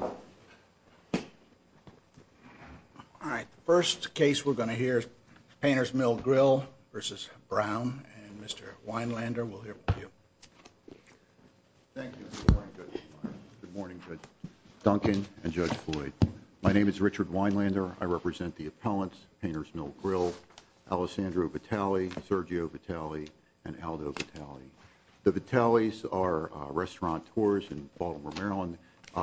All right, the first case we're going to hear is Painters Mill Grille v. Brown, and Mr. Weinlander will hear from you. Thank you. Good morning, Judge Duncan and Judge Floyd. My name is Richard Weinlander. I represent the appellants, Painters Mill Grille, Alessandro Vitale, Sergio Vitale, and Aldo Vitale. The Vitales are restauranteurs in Baltimore, Maryland.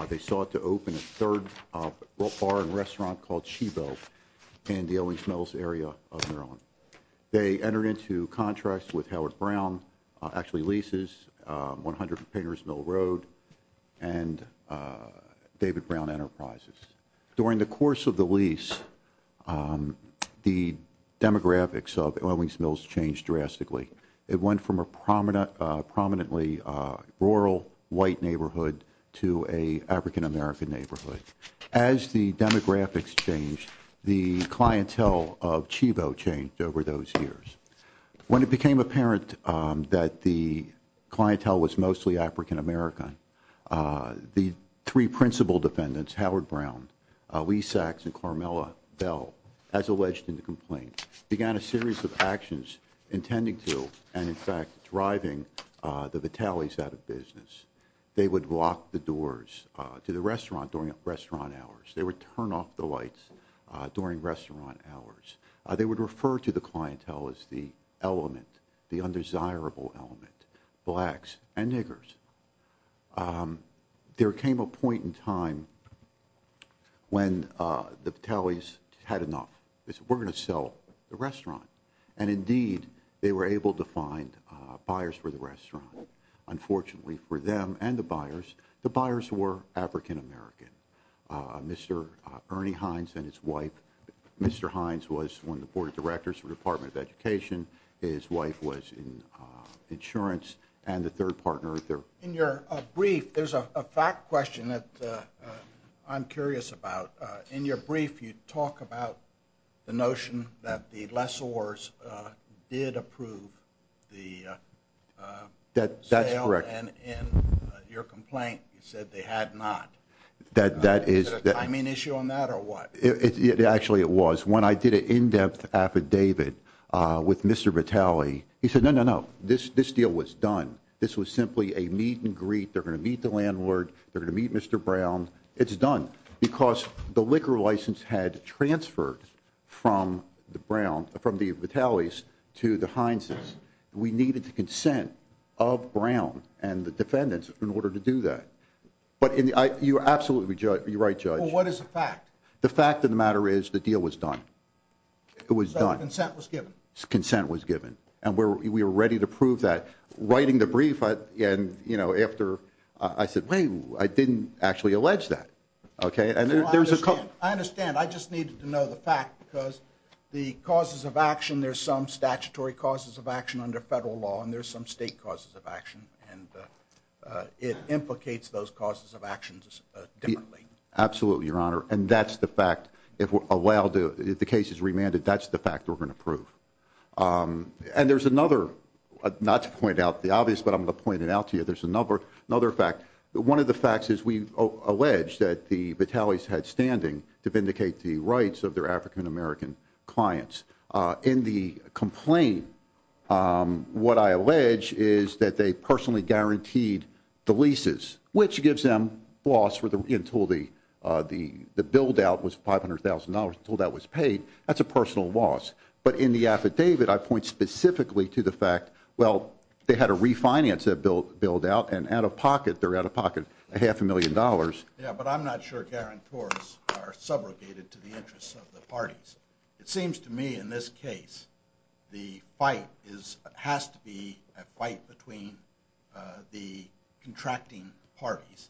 They sought to open a third bar and restaurant called Shebo in the Ellings Mills area of Maryland. They entered into contracts with Howard Brown, actually leases 100 Painters Mill Road and David Brown Enterprises. During the course of the lease, the demographics of Ellings Mills changed drastically. It went from a prominently rural white neighborhood to an African American neighborhood. As the demographics changed, the clientele of Shebo changed over those years. When it became apparent that the clientele was mostly African American, the three principal defendants, Howard Brown, Lee Sachs, and Carmela Bell, as alleged in the complaint, began a series of actions intending to and, in fact, driving the Vitales out of business. They would lock the doors to the restaurant during restaurant hours. They would turn off the lights during restaurant hours. They would refer to the clientele as the element, the undesirable element, blacks and niggers. There came a point in time when the Vitales had enough. They said, we're going to sell the restaurant. And, indeed, they were able to find buyers for the restaurant. Unfortunately for them and the buyers, the buyers were African American. Mr. Ernie Hines and his wife, Mr. Hines was one of the board of directors of the Department of Education. His wife was in insurance and the third partner. In your brief, there's a fact question that I'm curious about. In your brief, you talk about the notion that the lessors did approve the sale. That's correct. And in your complaint, you said they had not. Is there a timing issue on that or what? Actually, it was. When I did an in-depth affidavit with Mr. Vitale, he said, no, no, no. This deal was done. This was simply a meet and greet. They're going to meet the landlord. They're going to meet Mr. Brown. It's done because the liquor license had transferred from the Vitales to the Hineses. We needed the consent of Brown and the defendants in order to do that. You're absolutely right, Judge. What is the fact? The fact of the matter is the deal was done. It was done. So consent was given? Consent was given. And we were ready to prove that. Writing the brief, I said, wait, I didn't actually allege that. I understand. I just needed to know the fact because the causes of action, there's some statutory causes of action under federal law and there's some state causes of action. It implicates those causes of actions differently. Absolutely, Your Honor. And that's the fact. If the case is remanded, that's the fact we're going to prove. And there's another, not to point out the obvious, but I'm going to point it out to you. There's another fact. One of the facts is we allege that the Vitales had standing to vindicate the rights of their African-American clients. In the complaint, what I allege is that they personally guaranteed the leases, which gives them loss until the build-out was $500,000, until that was paid. That's a personal loss. But in the affidavit, I point specifically to the fact, well, they had to refinance that build-out, and out of pocket, they're out of pocket, a half a million dollars. Yeah, but I'm not sure guarantors are subrogated to the interests of the parties. It seems to me, in this case, the fight has to be a fight between the contracting parties,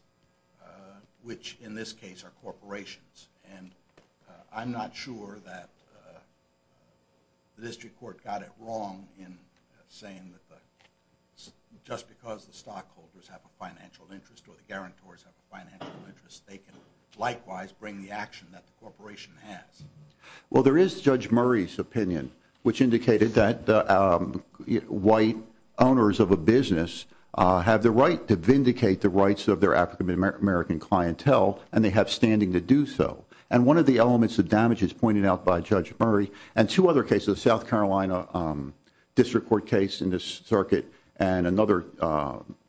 which in this case are corporations. And I'm not sure that the district court got it wrong in saying that just because the stockholders have a financial interest or the guarantors have a financial interest, they can likewise bring the action that the corporation has. Well, there is Judge Murray's opinion, which indicated that white owners of a business have the right to vindicate the rights of their African-American clientele, and they have standing to do so. And one of the elements of damage is pointed out by Judge Murray, and two other cases, the South Carolina district court case in this circuit and another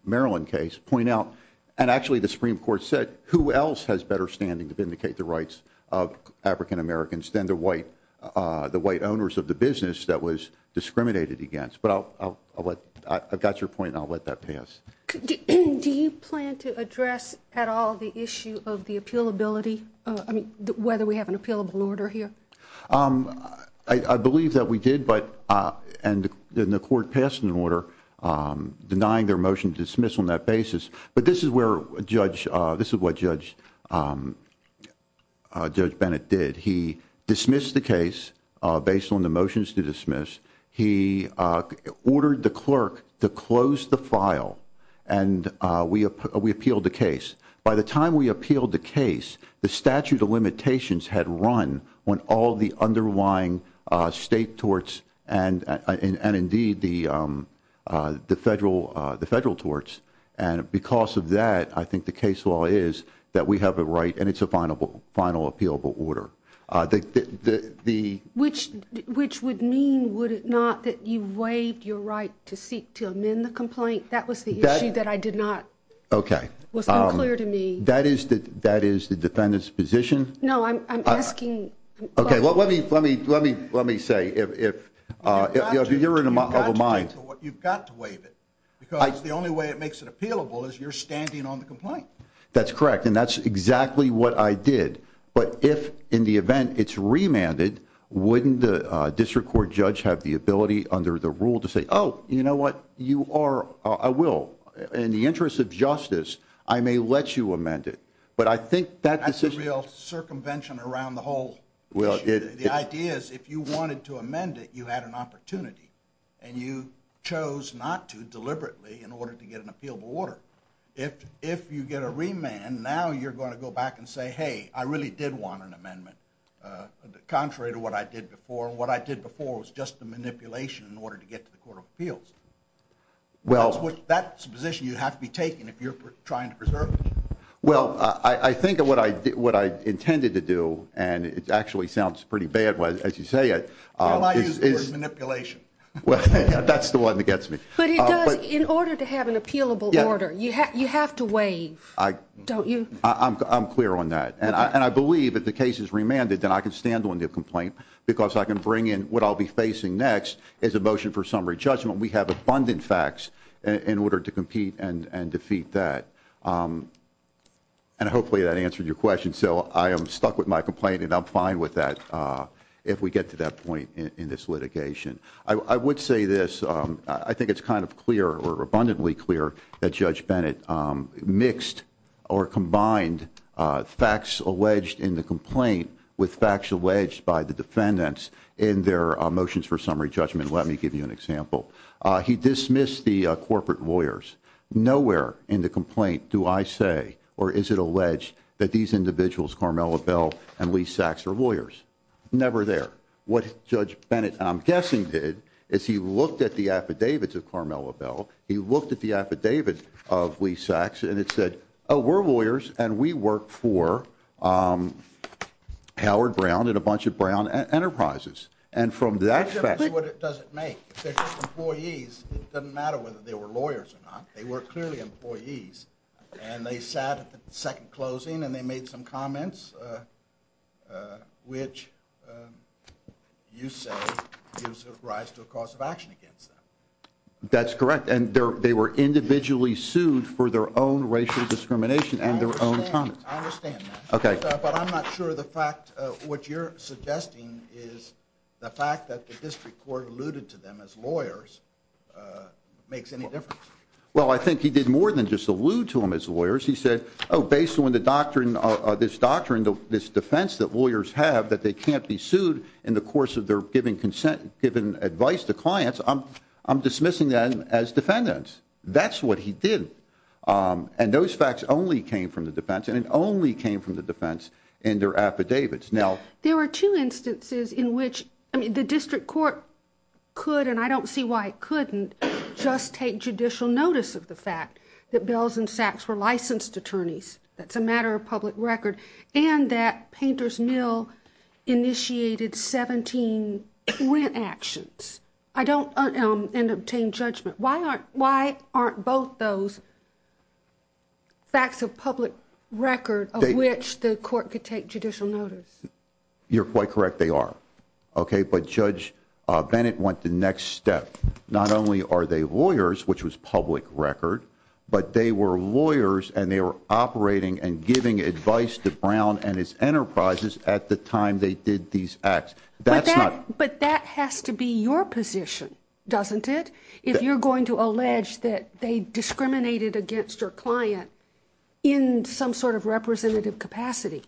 Maryland case, and actually the Supreme Court said who else has better standing to vindicate the rights of African-Americans than the white owners of the business that was discriminated against. But I've got your point, and I'll let that pass. Do you plan to address at all the issue of the appealability, whether we have an appealable order here? I believe that we did, and the court passed an order denying their motion to dismiss on that basis. But this is what Judge Bennett did. He dismissed the case based on the motions to dismiss. He ordered the clerk to close the file, and we appealed the case. By the time we appealed the case, the statute of limitations had run on all the underlying state torts and indeed the federal torts, and because of that, I think the case law is that we have a right, and it's a final appealable order. Which would mean, would it not, that you waived your right to seek to amend the complaint? That was the issue that I did not, was unclear to me. That is the defendant's position? No, I'm asking. Okay, well, let me say, if you're in the mind. You've got to waive it, because the only way it makes it appealable is you're standing on the complaint. That's correct, and that's exactly what I did. But if in the event it's remanded, wouldn't the district court judge have the ability under the rule to say, oh, you know what, you are, I will, in the interest of justice, I may let you amend it. But I think that decision. That's a real circumvention around the whole issue. The idea is if you wanted to amend it, you had an opportunity, and you chose not to deliberately in order to get an appealable order. If you get a remand, now you're going to go back and say, hey, I really did want an amendment, contrary to what I did before, and what I did before was just a manipulation in order to get to the court of appeals. That's the position you have to be taking if you're trying to preserve it? Well, I think what I intended to do, and it actually sounds pretty bad as you say it. Well, I use the word manipulation. Well, that's the one that gets me. But it does. In order to have an appealable order, you have to waive, don't you? I'm clear on that. And I believe if the case is remanded, then I can stand on the complaint because I can bring in what I'll be facing next as a motion for summary judgment. We have abundant facts in order to compete and defeat that. And hopefully that answered your question. So I am stuck with my complaint, and I'm fine with that if we get to that point in this litigation. I would say this. I think it's kind of clear or abundantly clear that Judge Bennett mixed or combined facts alleged in the complaint with facts alleged by the defendants in their motions for summary judgment. Let me give you an example. He dismissed the corporate lawyers. Nowhere in the complaint do I say or is it alleged that these individuals, Carmela Bell and Lee Sachs, are lawyers. Never there. What Judge Bennett, I'm guessing, did is he looked at the affidavits of Carmela Bell, he looked at the affidavit of Lee Sachs, and it said, Oh, we're lawyers, and we work for Howard Brown and a bunch of Brown enterprises. And from that fact, That's what it doesn't make. They're just employees. It doesn't matter whether they were lawyers or not. They were clearly employees. And they sat at the second closing and they made some comments, which you say gives rise to a cause of action against them. That's correct. And they were individually sued for their own racial discrimination and their own comments. I understand that. Okay. But I'm not sure the fact, what you're suggesting is the fact that the district court alluded to them as lawyers makes any difference. Well, I think he did more than just allude to them as lawyers. He said, oh, based on the doctrine, this doctrine, this defense that lawyers have that they can't be sued in the course of their giving consent, giving advice to clients, I'm dismissing them as defendants. That's what he did. And those facts only came from the defense, and it only came from the defense and their affidavits. Now, there were two instances in which the district court could, and I don't see why it couldn't, just take judicial notice of the fact that Bells and Sacks were licensed attorneys. That's a matter of public record. And that Painter's Mill initiated 17 actions. I don't obtain judgment. Why aren't both those facts of public record of which the court could take judicial notice? You're quite correct. They are. Okay. But Judge Bennett went the next step. Not only are they lawyers, which was public record, but they were lawyers and they were operating and giving advice to Brown and his enterprises at the time they did these acts. But that has to be your position, doesn't it, if you're going to allege that they discriminated against your client in some sort of representative capacity?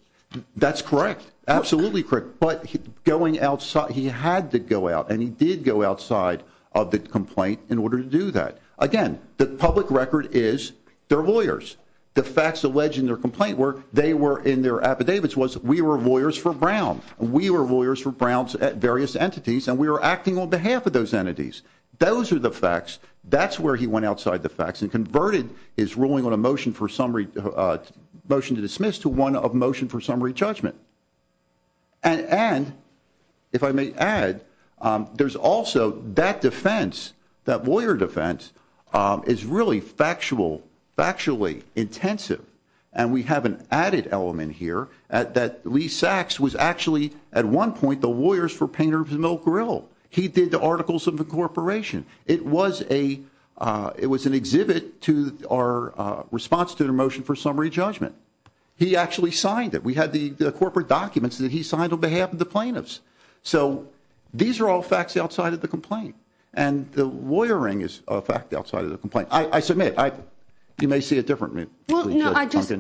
That's correct. Absolutely correct. But he had to go out, and he did go outside of the complaint in order to do that. Again, the public record is they're lawyers. The facts alleged in their complaint were they were in their affidavits was we were lawyers for Brown, and we were lawyers for Brown's various entities, and we were acting on behalf of those entities. Those are the facts. That's where he went outside the facts and converted his ruling on a motion to dismiss to one of motion for summary judgment. And if I may add, there's also that defense, that lawyer defense, is really factual, factually intensive. And we have an added element here that Lee Sachs was actually at one point the lawyers for Painter's Milk Grill. He did the articles of the corporation. It was an exhibit to our response to the motion for summary judgment. He actually signed it. We had the corporate documents that he signed on behalf of the plaintiffs. So these are all facts outside of the complaint, and the lawyering is a fact outside of the complaint. I submit. You may see it differently. Well, no, I just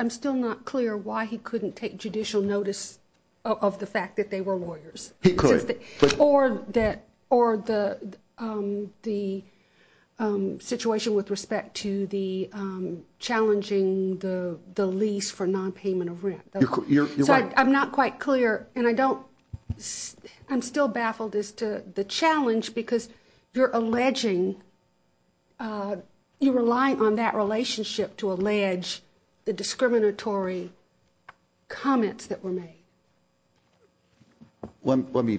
I'm still not clear why he couldn't take judicial notice of the fact that they were lawyers. He could. Or that or the the situation with respect to the challenging the the lease for nonpayment of rent. You're right. I'm not quite clear. And I don't I'm still baffled as to the challenge because you're alleging you rely on that relationship to allege the discriminatory comments that were made. Let me.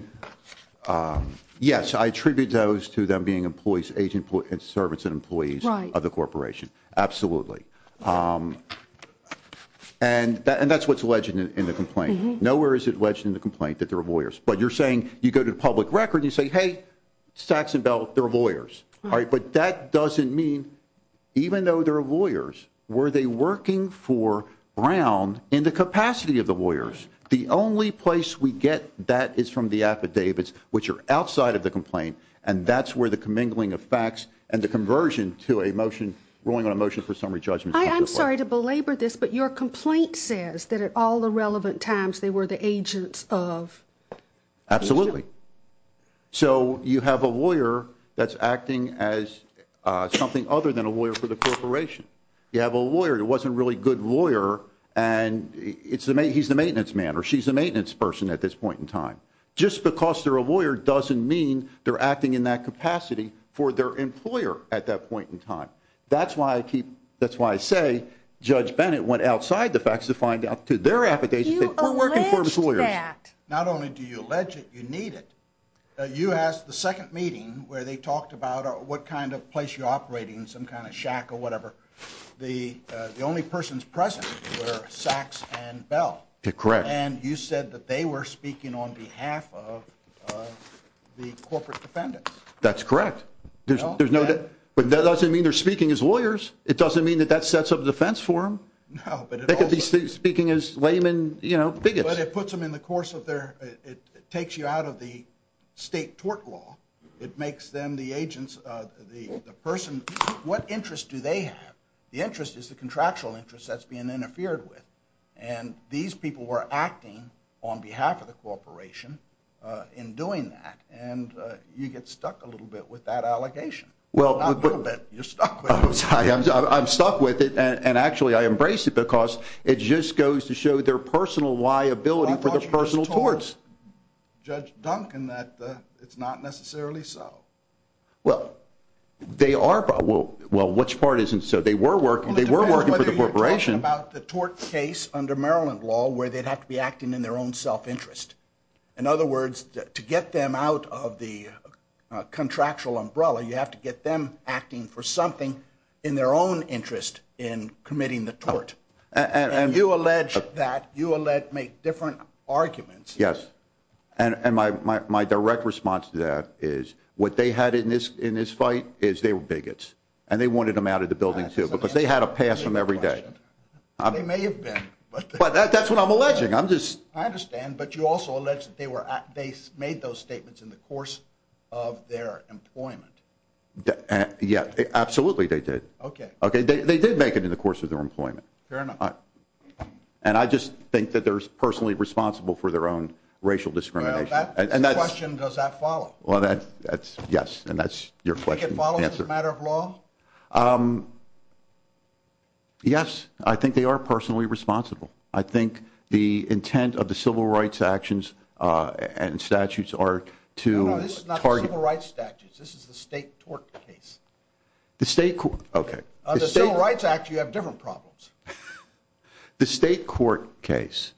Yes, I attribute those to them being employees, agent and servants and employees of the corporation. Absolutely. And that's what's alleged in the complaint. Nowhere is it alleged in the complaint that there are lawyers. But you're saying you go to the public record. You say, hey, Sachs and Bell, they're lawyers. All right. But that doesn't mean even though there are lawyers, were they working for Brown in the capacity of the lawyers? The only place we get that is from the affidavits, which are outside of the complaint. And that's where the commingling of facts and the conversion to a motion rolling on a motion for summary judgment. I'm sorry to belabor this, but your complaint says that at all the relevant times, they were the agents of. Absolutely. So you have a lawyer that's acting as something other than a lawyer for the corporation. You have a lawyer. It wasn't really good lawyer. And it's the he's the maintenance man or she's a maintenance person at this point in time. Just because they're a lawyer doesn't mean they're acting in that capacity for their employer at that point in time. That's why I keep. That's why I say Judge Bennett went outside the facts to find out to their affidavits. They were working for his lawyers. Not only do you allege it, you need it. You asked the second meeting where they talked about what kind of place you're operating, some kind of shack or whatever. The only persons present were Saks and Bell. Correct. And you said that they were speaking on behalf of the corporate defendants. That's correct. There's no doubt. But that doesn't mean they're speaking as lawyers. It doesn't mean that that sets up a defense for them. No. They could be speaking as laymen, you know, bigots. But it puts them in the course of their, it takes you out of the state tort law. It makes them the agents, the person. What interest do they have? The interest is the contractual interest that's being interfered with. And these people were acting on behalf of the corporation in doing that. And you get stuck a little bit with that allegation. Not a little bit. You're stuck with it. I'm sorry. I'm stuck with it. And actually I embrace it because it just goes to show their personal liability for their personal torts. I thought you just told Judge Duncan that it's not necessarily so. Well, they are. Well, which part isn't so? They were working. Well, it depends whether you're talking about the tort case under Maryland law where they'd have to be acting in their own self-interest. In other words, to get them out of the contractual umbrella, you have to get them acting for something in their own interest in committing the tort. And you allege that. You allege, make different arguments. Yes. And my direct response to that is what they had in this fight is they were bigots. And they wanted them out of the building, too, because they had to pass them every day. They may have been. But that's what I'm alleging. I understand. But you also allege that they made those statements in the course of their employment. Yeah. Absolutely they did. Okay. They did make it in the course of their employment. Fair enough. And I just think that they're personally responsible for their own racial discrimination. Well, that question, does that follow? Well, yes. And that's your question. Do you think it follows as a matter of law? Yes. I think they are personally responsible. I think the intent of the Civil Rights Actions and statutes are to target. No, no. This is not the Civil Rights Statutes. This is the state tort case. The state court. Okay. On the Civil Rights Act, you have different problems. The state court case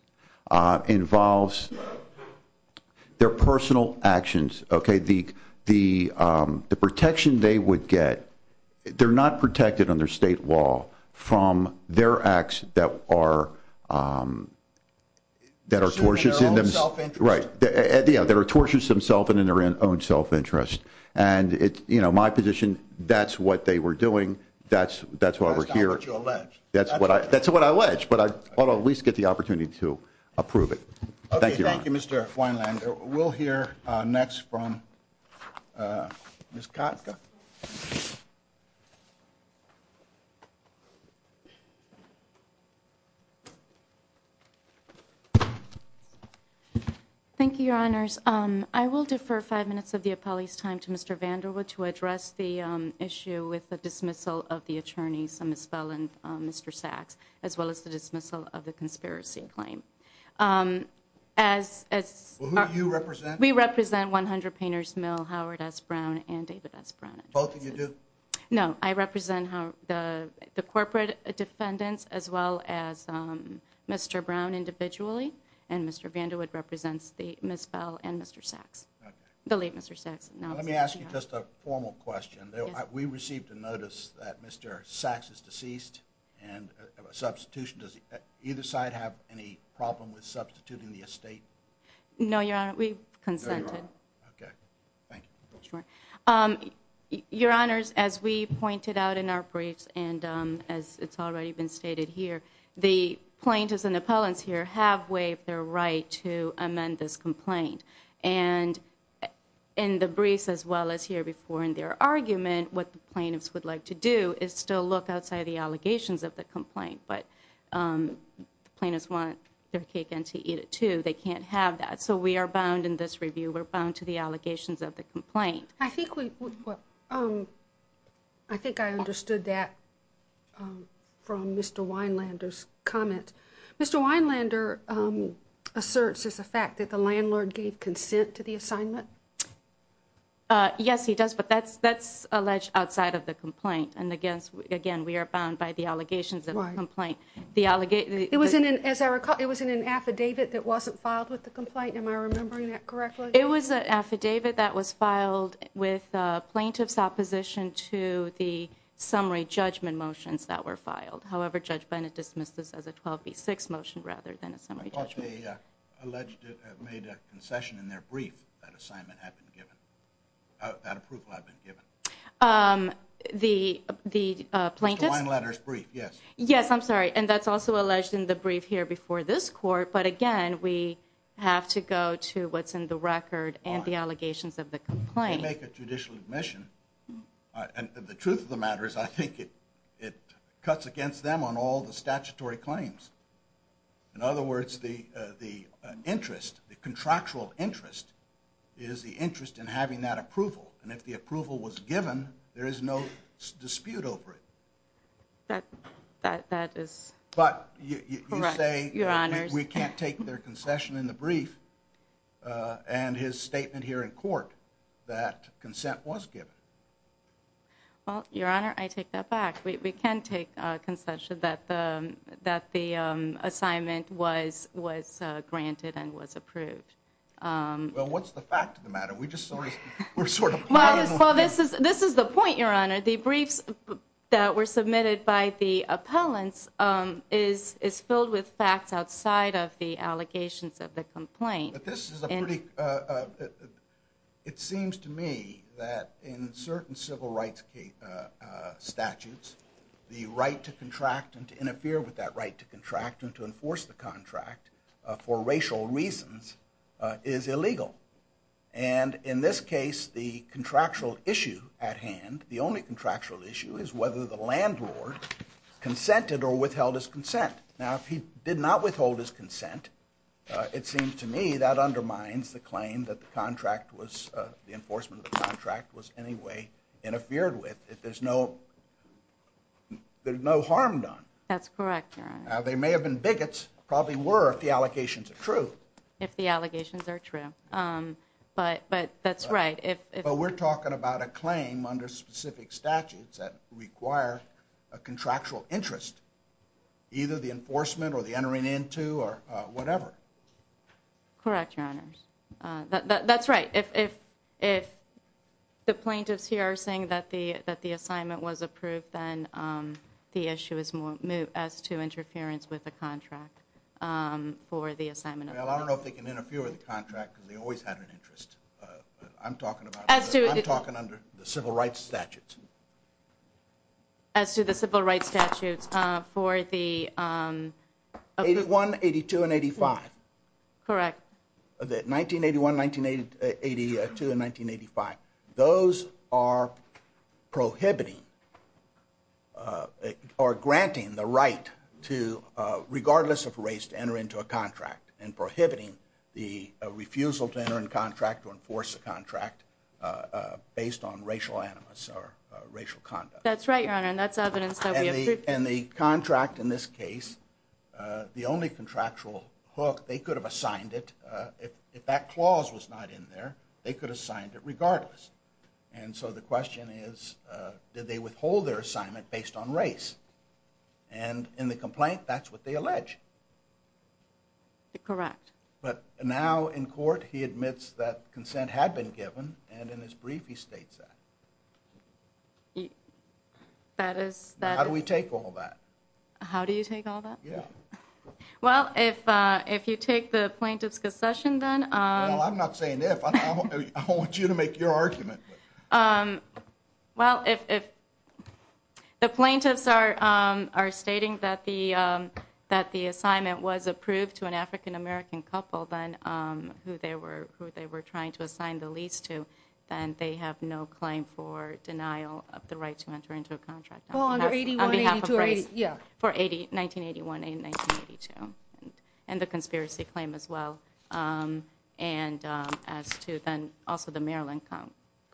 involves their personal actions. Okay. The protection they would get, they're not protected under state law from their acts that are tortious in themselves. In their own self-interest. Right. Yeah. They're tortious in themselves and in their own self-interest. And my position, that's what they were doing. That's why we're here. That's not what you allege. That's what I allege. But I thought I'd at least get the opportunity to approve it. Thank you, Your Honor. Okay. Thank you, Mr. Weinlander. We'll hear next from Ms. Katka. Thank you, Your Honors. I will defer five minutes of the appellee's time to Mr. Vanderwood to address the issue with the dismissal of the attorneys, Ms. Bell and Mr. Sachs, as well as the dismissal of the conspiracy claim. Who do you represent? We represent 100 Painters Mill, Howard S. Brown, and David S. Brown. Both of you do? No. I represent the corporate defendants as well as Mr. Brown individually. And Mr. Vanderwood represents Ms. Bell and Mr. Sachs, the late Mr. Sachs. Let me ask you just a formal question. We received a notice that Mr. Sachs is deceased and a substitution. Does either side have any problem with substituting the estate? No, Your Honor. We've consented. Okay. Thank you. Your Honors, as we pointed out in our briefs and as it's already been stated here, the plaintiffs and appellants here have waived their right to amend this complaint. And in the briefs as well as here before in their argument, what the plaintiffs would like to do is still look outside the allegations of the complaint. But the plaintiffs want their cake and to eat it, too. They can't have that. So we are bound in this review, we're bound to the allegations of the complaint. I think I understood that from Mr. Weinlander's comment. Mr. Weinlander asserts as a fact that the landlord gave consent to the assignment. Yes, he does, but that's alleged outside of the complaint. And, again, we are bound by the allegations of the complaint. As I recall, it was in an affidavit that wasn't filed with the complaint. Am I remembering that correctly? It was an affidavit that was filed with plaintiff's opposition to the summary judgment motions that were filed. However, Judge Bennett dismissed this as a 12B6 motion rather than a summary judgment. I thought they alleged to have made a concession in their brief that assignment had been given, that approval had been given. The plaintiff's? Mr. Weinlander's brief, yes. Yes, I'm sorry. And that's also alleged in the brief here before this Court. But, again, we have to go to what's in the record and the allegations of the complaint. If you make a judicial admission, and the truth of the matter is I think it cuts against them on all the statutory claims. In other words, the contractual interest is the interest in having that approval. And if the approval was given, there is no dispute over it. That is correct, Your Honors. But you say we can't take their concession in the brief. And his statement here in court that consent was given. Well, Your Honor, I take that back. We can take concession that the assignment was granted and was approved. Well, what's the fact of the matter? We're sort of part of the matter. Well, this is the point, Your Honor. The briefs that were submitted by the appellants is filled with facts outside of the allegations of the complaint. It seems to me that in certain civil rights statutes, the right to contract and to interfere with that right to contract and to enforce the contract for racial reasons is illegal. And in this case, the contractual issue at hand, the only contractual issue, is whether the landlord consented or withheld his consent. Now, if he did not withhold his consent, it seems to me that undermines the claim that the enforcement of the contract was in any way interfered with. There's no harm done. That's correct, Your Honor. Now, they may have been bigots, probably were, if the allegations are true. If the allegations are true. But that's right. But we're talking about a claim under specific statutes that require a contractual interest, either the enforcement or the entering into or whatever. Correct, Your Honor. That's right. If the plaintiffs here are saying that the assignment was approved, then the issue is moved as to interference with the contract for the assignment. Well, I don't know if they can interfere with the contract because they always had an interest. I'm talking about the civil rights statutes. As to the civil rights statutes for the... 81, 82, and 85. Correct. 1981, 1982, and 1985. Those are prohibiting or granting the right to, regardless of race, to enter into a contract. And prohibiting the refusal to enter into a contract or enforce a contract based on racial animus or racial conduct. That's right, Your Honor, and that's evidence that we approved... And the contract in this case, the only contractual hook, they could have assigned it. If that clause was not in there, they could have signed it regardless. And so the question is, did they withhold their assignment based on race? And in the complaint, that's what they allege. Correct. But now in court, he admits that consent had been given, and in his brief he states that. That is... How do we take all that? How do you take all that? Yeah. Well, if you take the plaintiff's concession, then... Well, I'm not saying if. I don't want you to make your argument. Well, if the plaintiffs are stating that the assignment was approved to an African-American couple, then who they were trying to assign the lease to, then they have no claim for denial of the right to enter into a contract. Well, under 81, 82, yeah. For 1981 and 1982. And the conspiracy claim as well. And as to then also the Maryland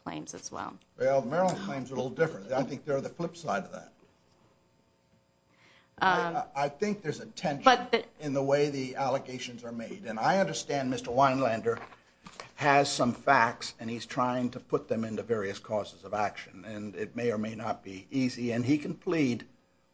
claims as well. Well, the Maryland claims are a little different. I think they're the flip side of that. I think there's a tension in the way the allegations are made. And I understand Mr. Weinlander has some facts, and he's trying to put them into various causes of action. And it may or may not be easy. And he can plead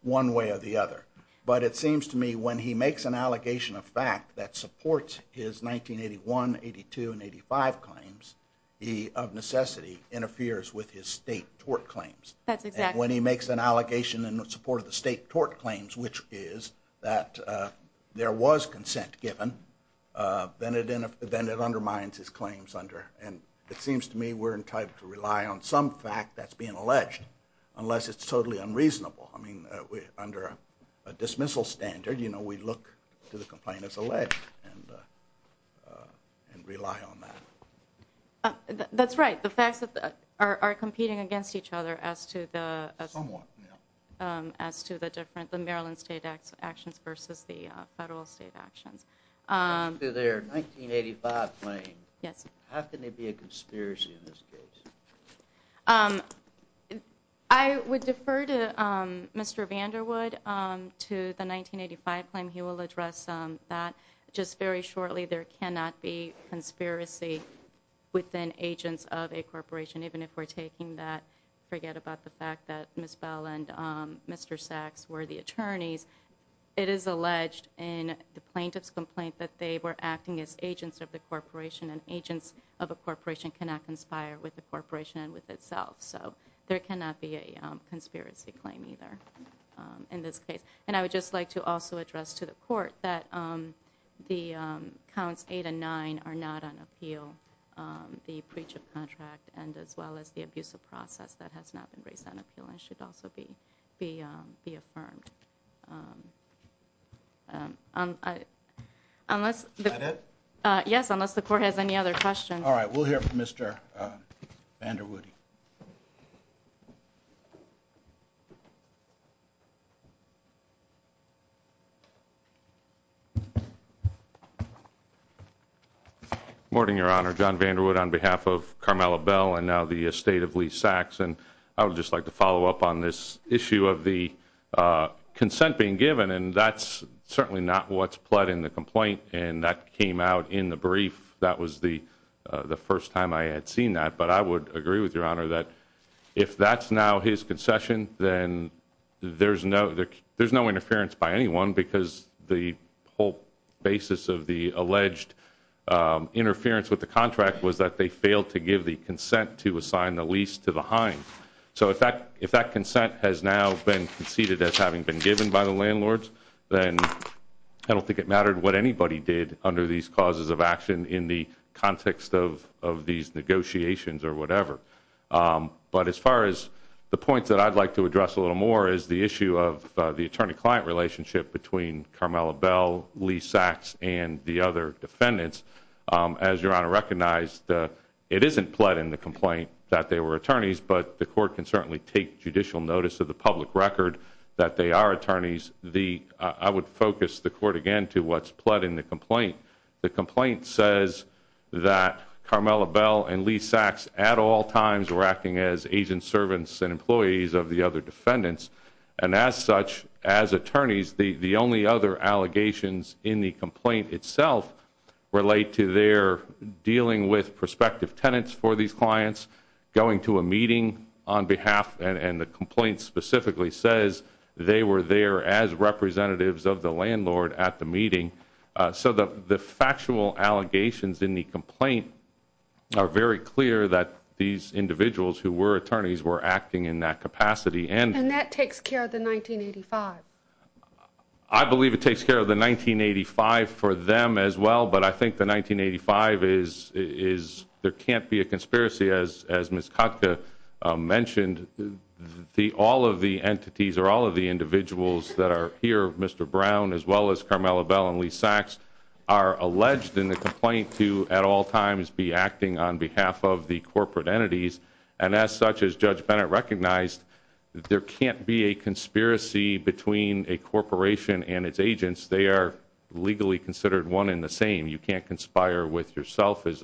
one way or the other. But it seems to me when he makes an allegation of fact that supports his 1981, 82, and 85 claims, he of necessity interferes with his state tort claims. That's exact. And when he makes an allegation in support of the state tort claims, which is that there was consent given, then it undermines his claims under. And it seems to me we're entitled to rely on some fact that's being alleged unless it's totally unreasonable. I mean, under a dismissal standard, you know, we look to the complaint as alleged and rely on that. That's right. The facts are competing against each other as to the Maryland state actions versus the federal state actions. To their 1985 claim. Yes. How can there be a conspiracy in this case? I would defer to Mr. Vanderwood to the 1985 claim. He will address that. Just very shortly, there cannot be conspiracy within agents of a corporation, even if we're taking that. Forget about the fact that Ms. Bell and Mr. Sachs were the attorneys. It is alleged in the plaintiff's complaint that they were acting as agents of the corporation and agents of a corporation cannot conspire with the corporation and with itself. So there cannot be a conspiracy claim either in this case. And I would just like to also address to the court that the counts 8 and 9 are not on appeal. The pre-chip contract and as well as the abusive process that has not been raised on appeal and should also be affirmed. Unless the court has any other questions. All right. We'll hear from Mr. Vanderwood. Good morning, Your Honor. John Vanderwood on behalf of Carmela Bell and now the estate of Lee Sachs. And I would just like to follow up on this issue of the consent being given. And that's certainly not what's pled in the complaint. And that came out in the brief. That was the first time I had seen that. But I would agree with Your Honor that if that's now his concession, then there's no there's no interference by anyone. Because the whole basis of the alleged interference with the contract was that they failed to give the consent to assign the lease to the hind. So if that if that consent has now been conceded as having been given by the landlords, then I don't think it mattered what anybody did under these causes of action in the context of of these negotiations or whatever. But as far as the points that I'd like to address a little more is the issue of the attorney client relationship between Carmela Bell, Lee Sachs and the other defendants. As Your Honor recognized, it isn't pled in the complaint that they were attorneys, but the court can certainly take judicial notice of the public record that they are attorneys. I would focus the court again to what's pled in the complaint. The complaint says that Carmela Bell and Lee Sachs at all times were acting as agent servants and employees of the other defendants. And as such, as attorneys, the only other allegations in the complaint itself relate to their dealing with prospective tenants for these clients, going to a meeting on behalf and the complaint specifically says they were there as representatives of the landlord at the meeting. So the factual allegations in the complaint are very clear that these individuals who were attorneys were acting in that capacity. And that takes care of the 1985. I believe it takes care of the 1985 for them as well. But I think the 1985 is is there can't be a conspiracy as as Ms. Kotka mentioned, the all of the entities are all of the individuals that are here. Mr. Brown, as well as Carmela Bell and Lee Sachs are alleged in the complaint to at all times be acting on behalf of the corporate entities. And as such, as Judge Bennett recognized, there can't be a conspiracy between a corporation and its agents. They are legally considered one in the same. You can't conspire with yourself is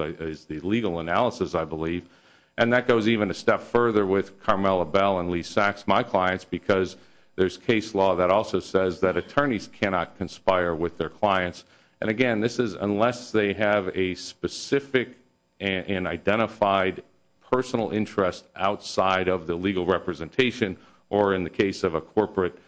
the legal analysis, I believe. And that goes even a step further with Carmela Bell and Lee Sachs, my clients, because there's case law that also says that attorneys cannot conspire with their clients. And again, this is unless they have a specific and identified personal interest outside of the legal representation, or in the case of a corporate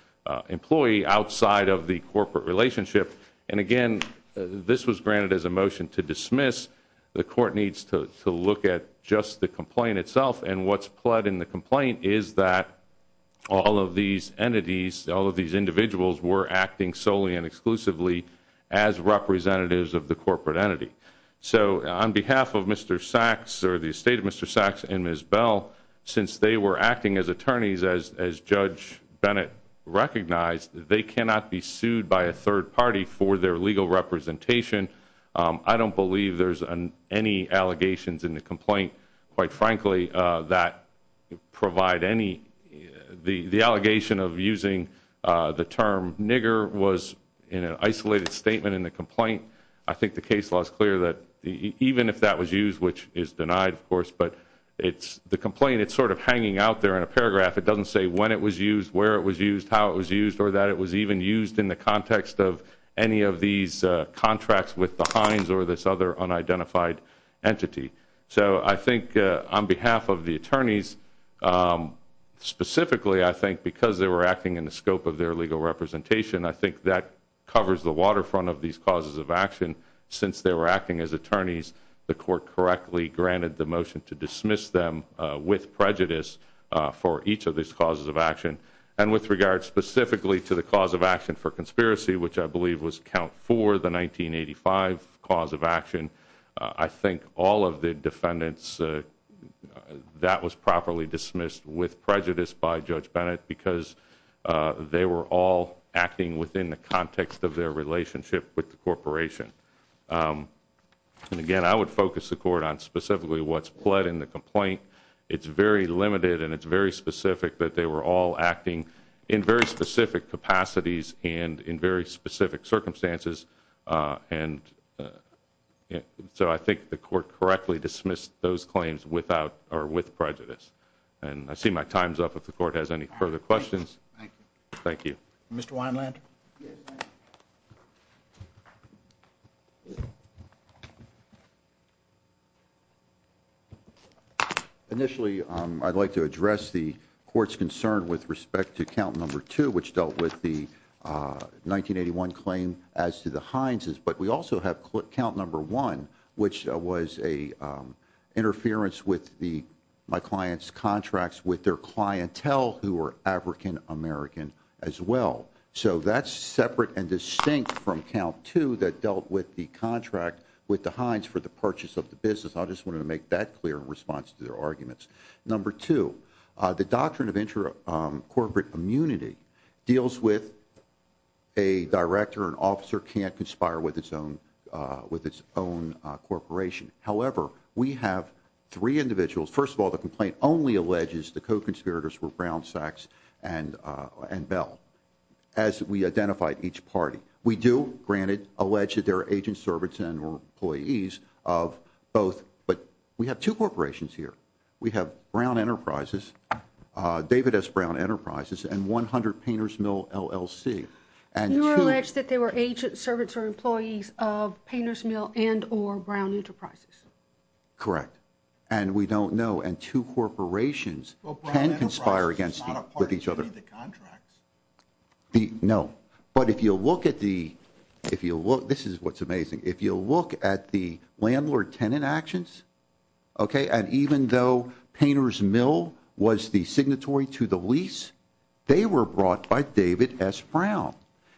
employee outside of the corporate relationship. And again, this was granted as a motion to dismiss. The court needs to look at just the complaint itself. And what's plot in the complaint is that all of these entities, all of these individuals were acting solely and exclusively as representatives of the corporate entity. So on behalf of Mr. Sachs or the estate of Mr. Sachs and Ms. Bell, since they were acting as attorneys as Judge Bennett recognized, they cannot be sued by a third party for their legal representation. I don't believe there's any allegations in the complaint, quite frankly, that provide any. The allegation of using the term nigger was in an isolated statement in the complaint. I think the case law is clear that even if that was used, which is denied, of course, but the complaint, it's sort of hanging out there in a paragraph. It doesn't say when it was used, where it was used, how it was used, or that it was even used in the context of any of these contracts with the Hines or this other unidentified entity. So I think on behalf of the attorneys specifically, I think, because they were acting in the scope of their legal representation, I think that covers the waterfront of these causes of action. Since they were acting as attorneys, the court correctly granted the motion to dismiss them with prejudice for each of these causes of action. And with regard specifically to the cause of action for conspiracy, which I believe was count for the 1985 cause of action, I think all of the defendants, that was properly dismissed with prejudice by Judge Bennett because they were all acting within the context of their relationship with the corporation. And again, I would focus the court on specifically what's pled in the complaint. It's very limited and it's very specific that they were all acting in very specific capacities and in very specific circumstances. So I think the court correctly dismissed those claims with prejudice. And I see my time's up if the court has any further questions. Thank you. Thank you. Mr. Wineland? Yes. Initially, I'd like to address the court's concern with respect to count number two, which dealt with the 1981 claim as to the Hineses. But we also have count number one, which was an interference with my client's contracts with their clientele who were African American as well. So that's separate and distinct from count two that dealt with the contract with the Hines for the purchase of the business. I just wanted to make that clear in response to their arguments. Number two, the doctrine of intra-corporate immunity deals with a director. An officer can't conspire with its own corporation. However, we have three individuals. First of all, the complaint only alleges the co-conspirators were Brown, Sachs, and Bell, as we identified each party. We do, granted, allege that there are agents, servants, and employees of both. But we have two corporations here. We have Brown Enterprises, David S. Brown Enterprises, and 100 Painters Mill, LLC. You allege that there were agents, servants, or employees of Painters Mill and or Brown Enterprises. Correct. And we don't know. And two corporations can conspire against each other. No. But if you look at the – this is what's amazing. If you look at the landlord-tenant actions, okay, and even though Painters Mill was the signatory to the lease, they were brought by David S. Brown.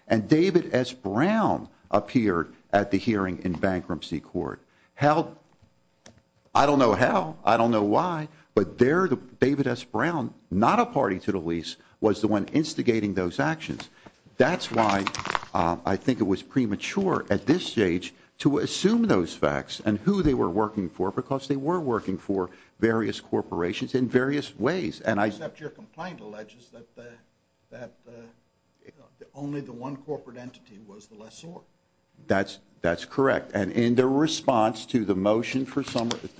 And David S. Brown appeared at the hearing in bankruptcy court. I don't know how. I don't know why. But David S. Brown, not a party to the lease, was the one instigating those actions. That's why I think it was premature at this stage to assume those facts and who they were working for because they were working for various corporations in various ways. Except your complaint alleges that only the one corporate entity was the lessor. That's correct. And in their response to the motion for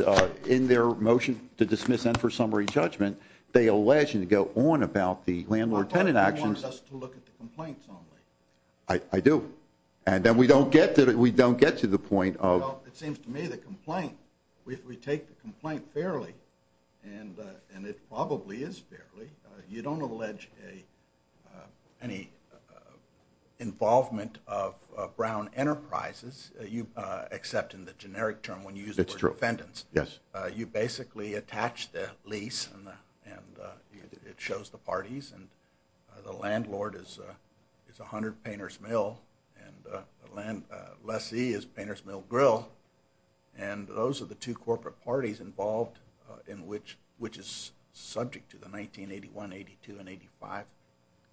– in their motion to dismiss them for summary judgment, they allege and go on about the landlord-tenant actions. I thought you wanted us to look at the complaints only. I do. And then we don't get to the point of – Well, it seems to me the complaint, if we take the complaint fairly, and it probably is fairly, you don't allege any involvement of Brown Enterprises. Except in the generic term when you use the word defendants. It's true. Yes. You basically attach the lease and it shows the parties. And the landlord is 100 Painters Mill. And the lessee is Painters Mill Grill. And those are the two corporate parties involved in which is subject to the 1981, 82, and 85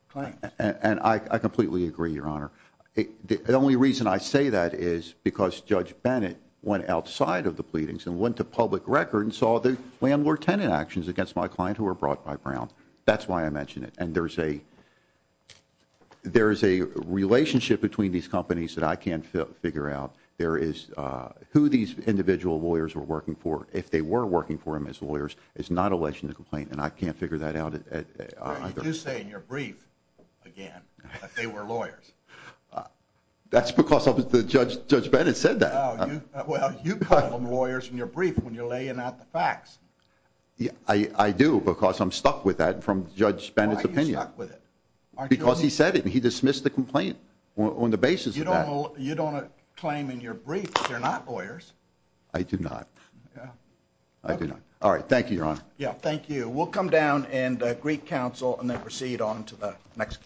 claims. And I completely agree, Your Honor. The only reason I say that is because Judge Bennett went outside of the pleadings and went to public record and saw the landlord-tenant actions against my client who were brought by Brown. That's why I mention it. And there is a relationship between these companies that I can't figure out. There is – who these individual lawyers were working for, if they were working for them as lawyers, is not a legitimate complaint. And I can't figure that out either. You say in your brief, again, that they were lawyers. That's because Judge Bennett said that. Well, you call them lawyers in your brief when you're laying out the facts. I do because I'm stuck with that from Judge Bennett's opinion. Why are you stuck with it? Because he said it and he dismissed the complaint on the basis of that. You don't claim in your brief that they're not lawyers. I do not. I do not. All right. Thank you, Your Honor. Yeah, thank you. We'll come down and greet counsel and then proceed on to the next case.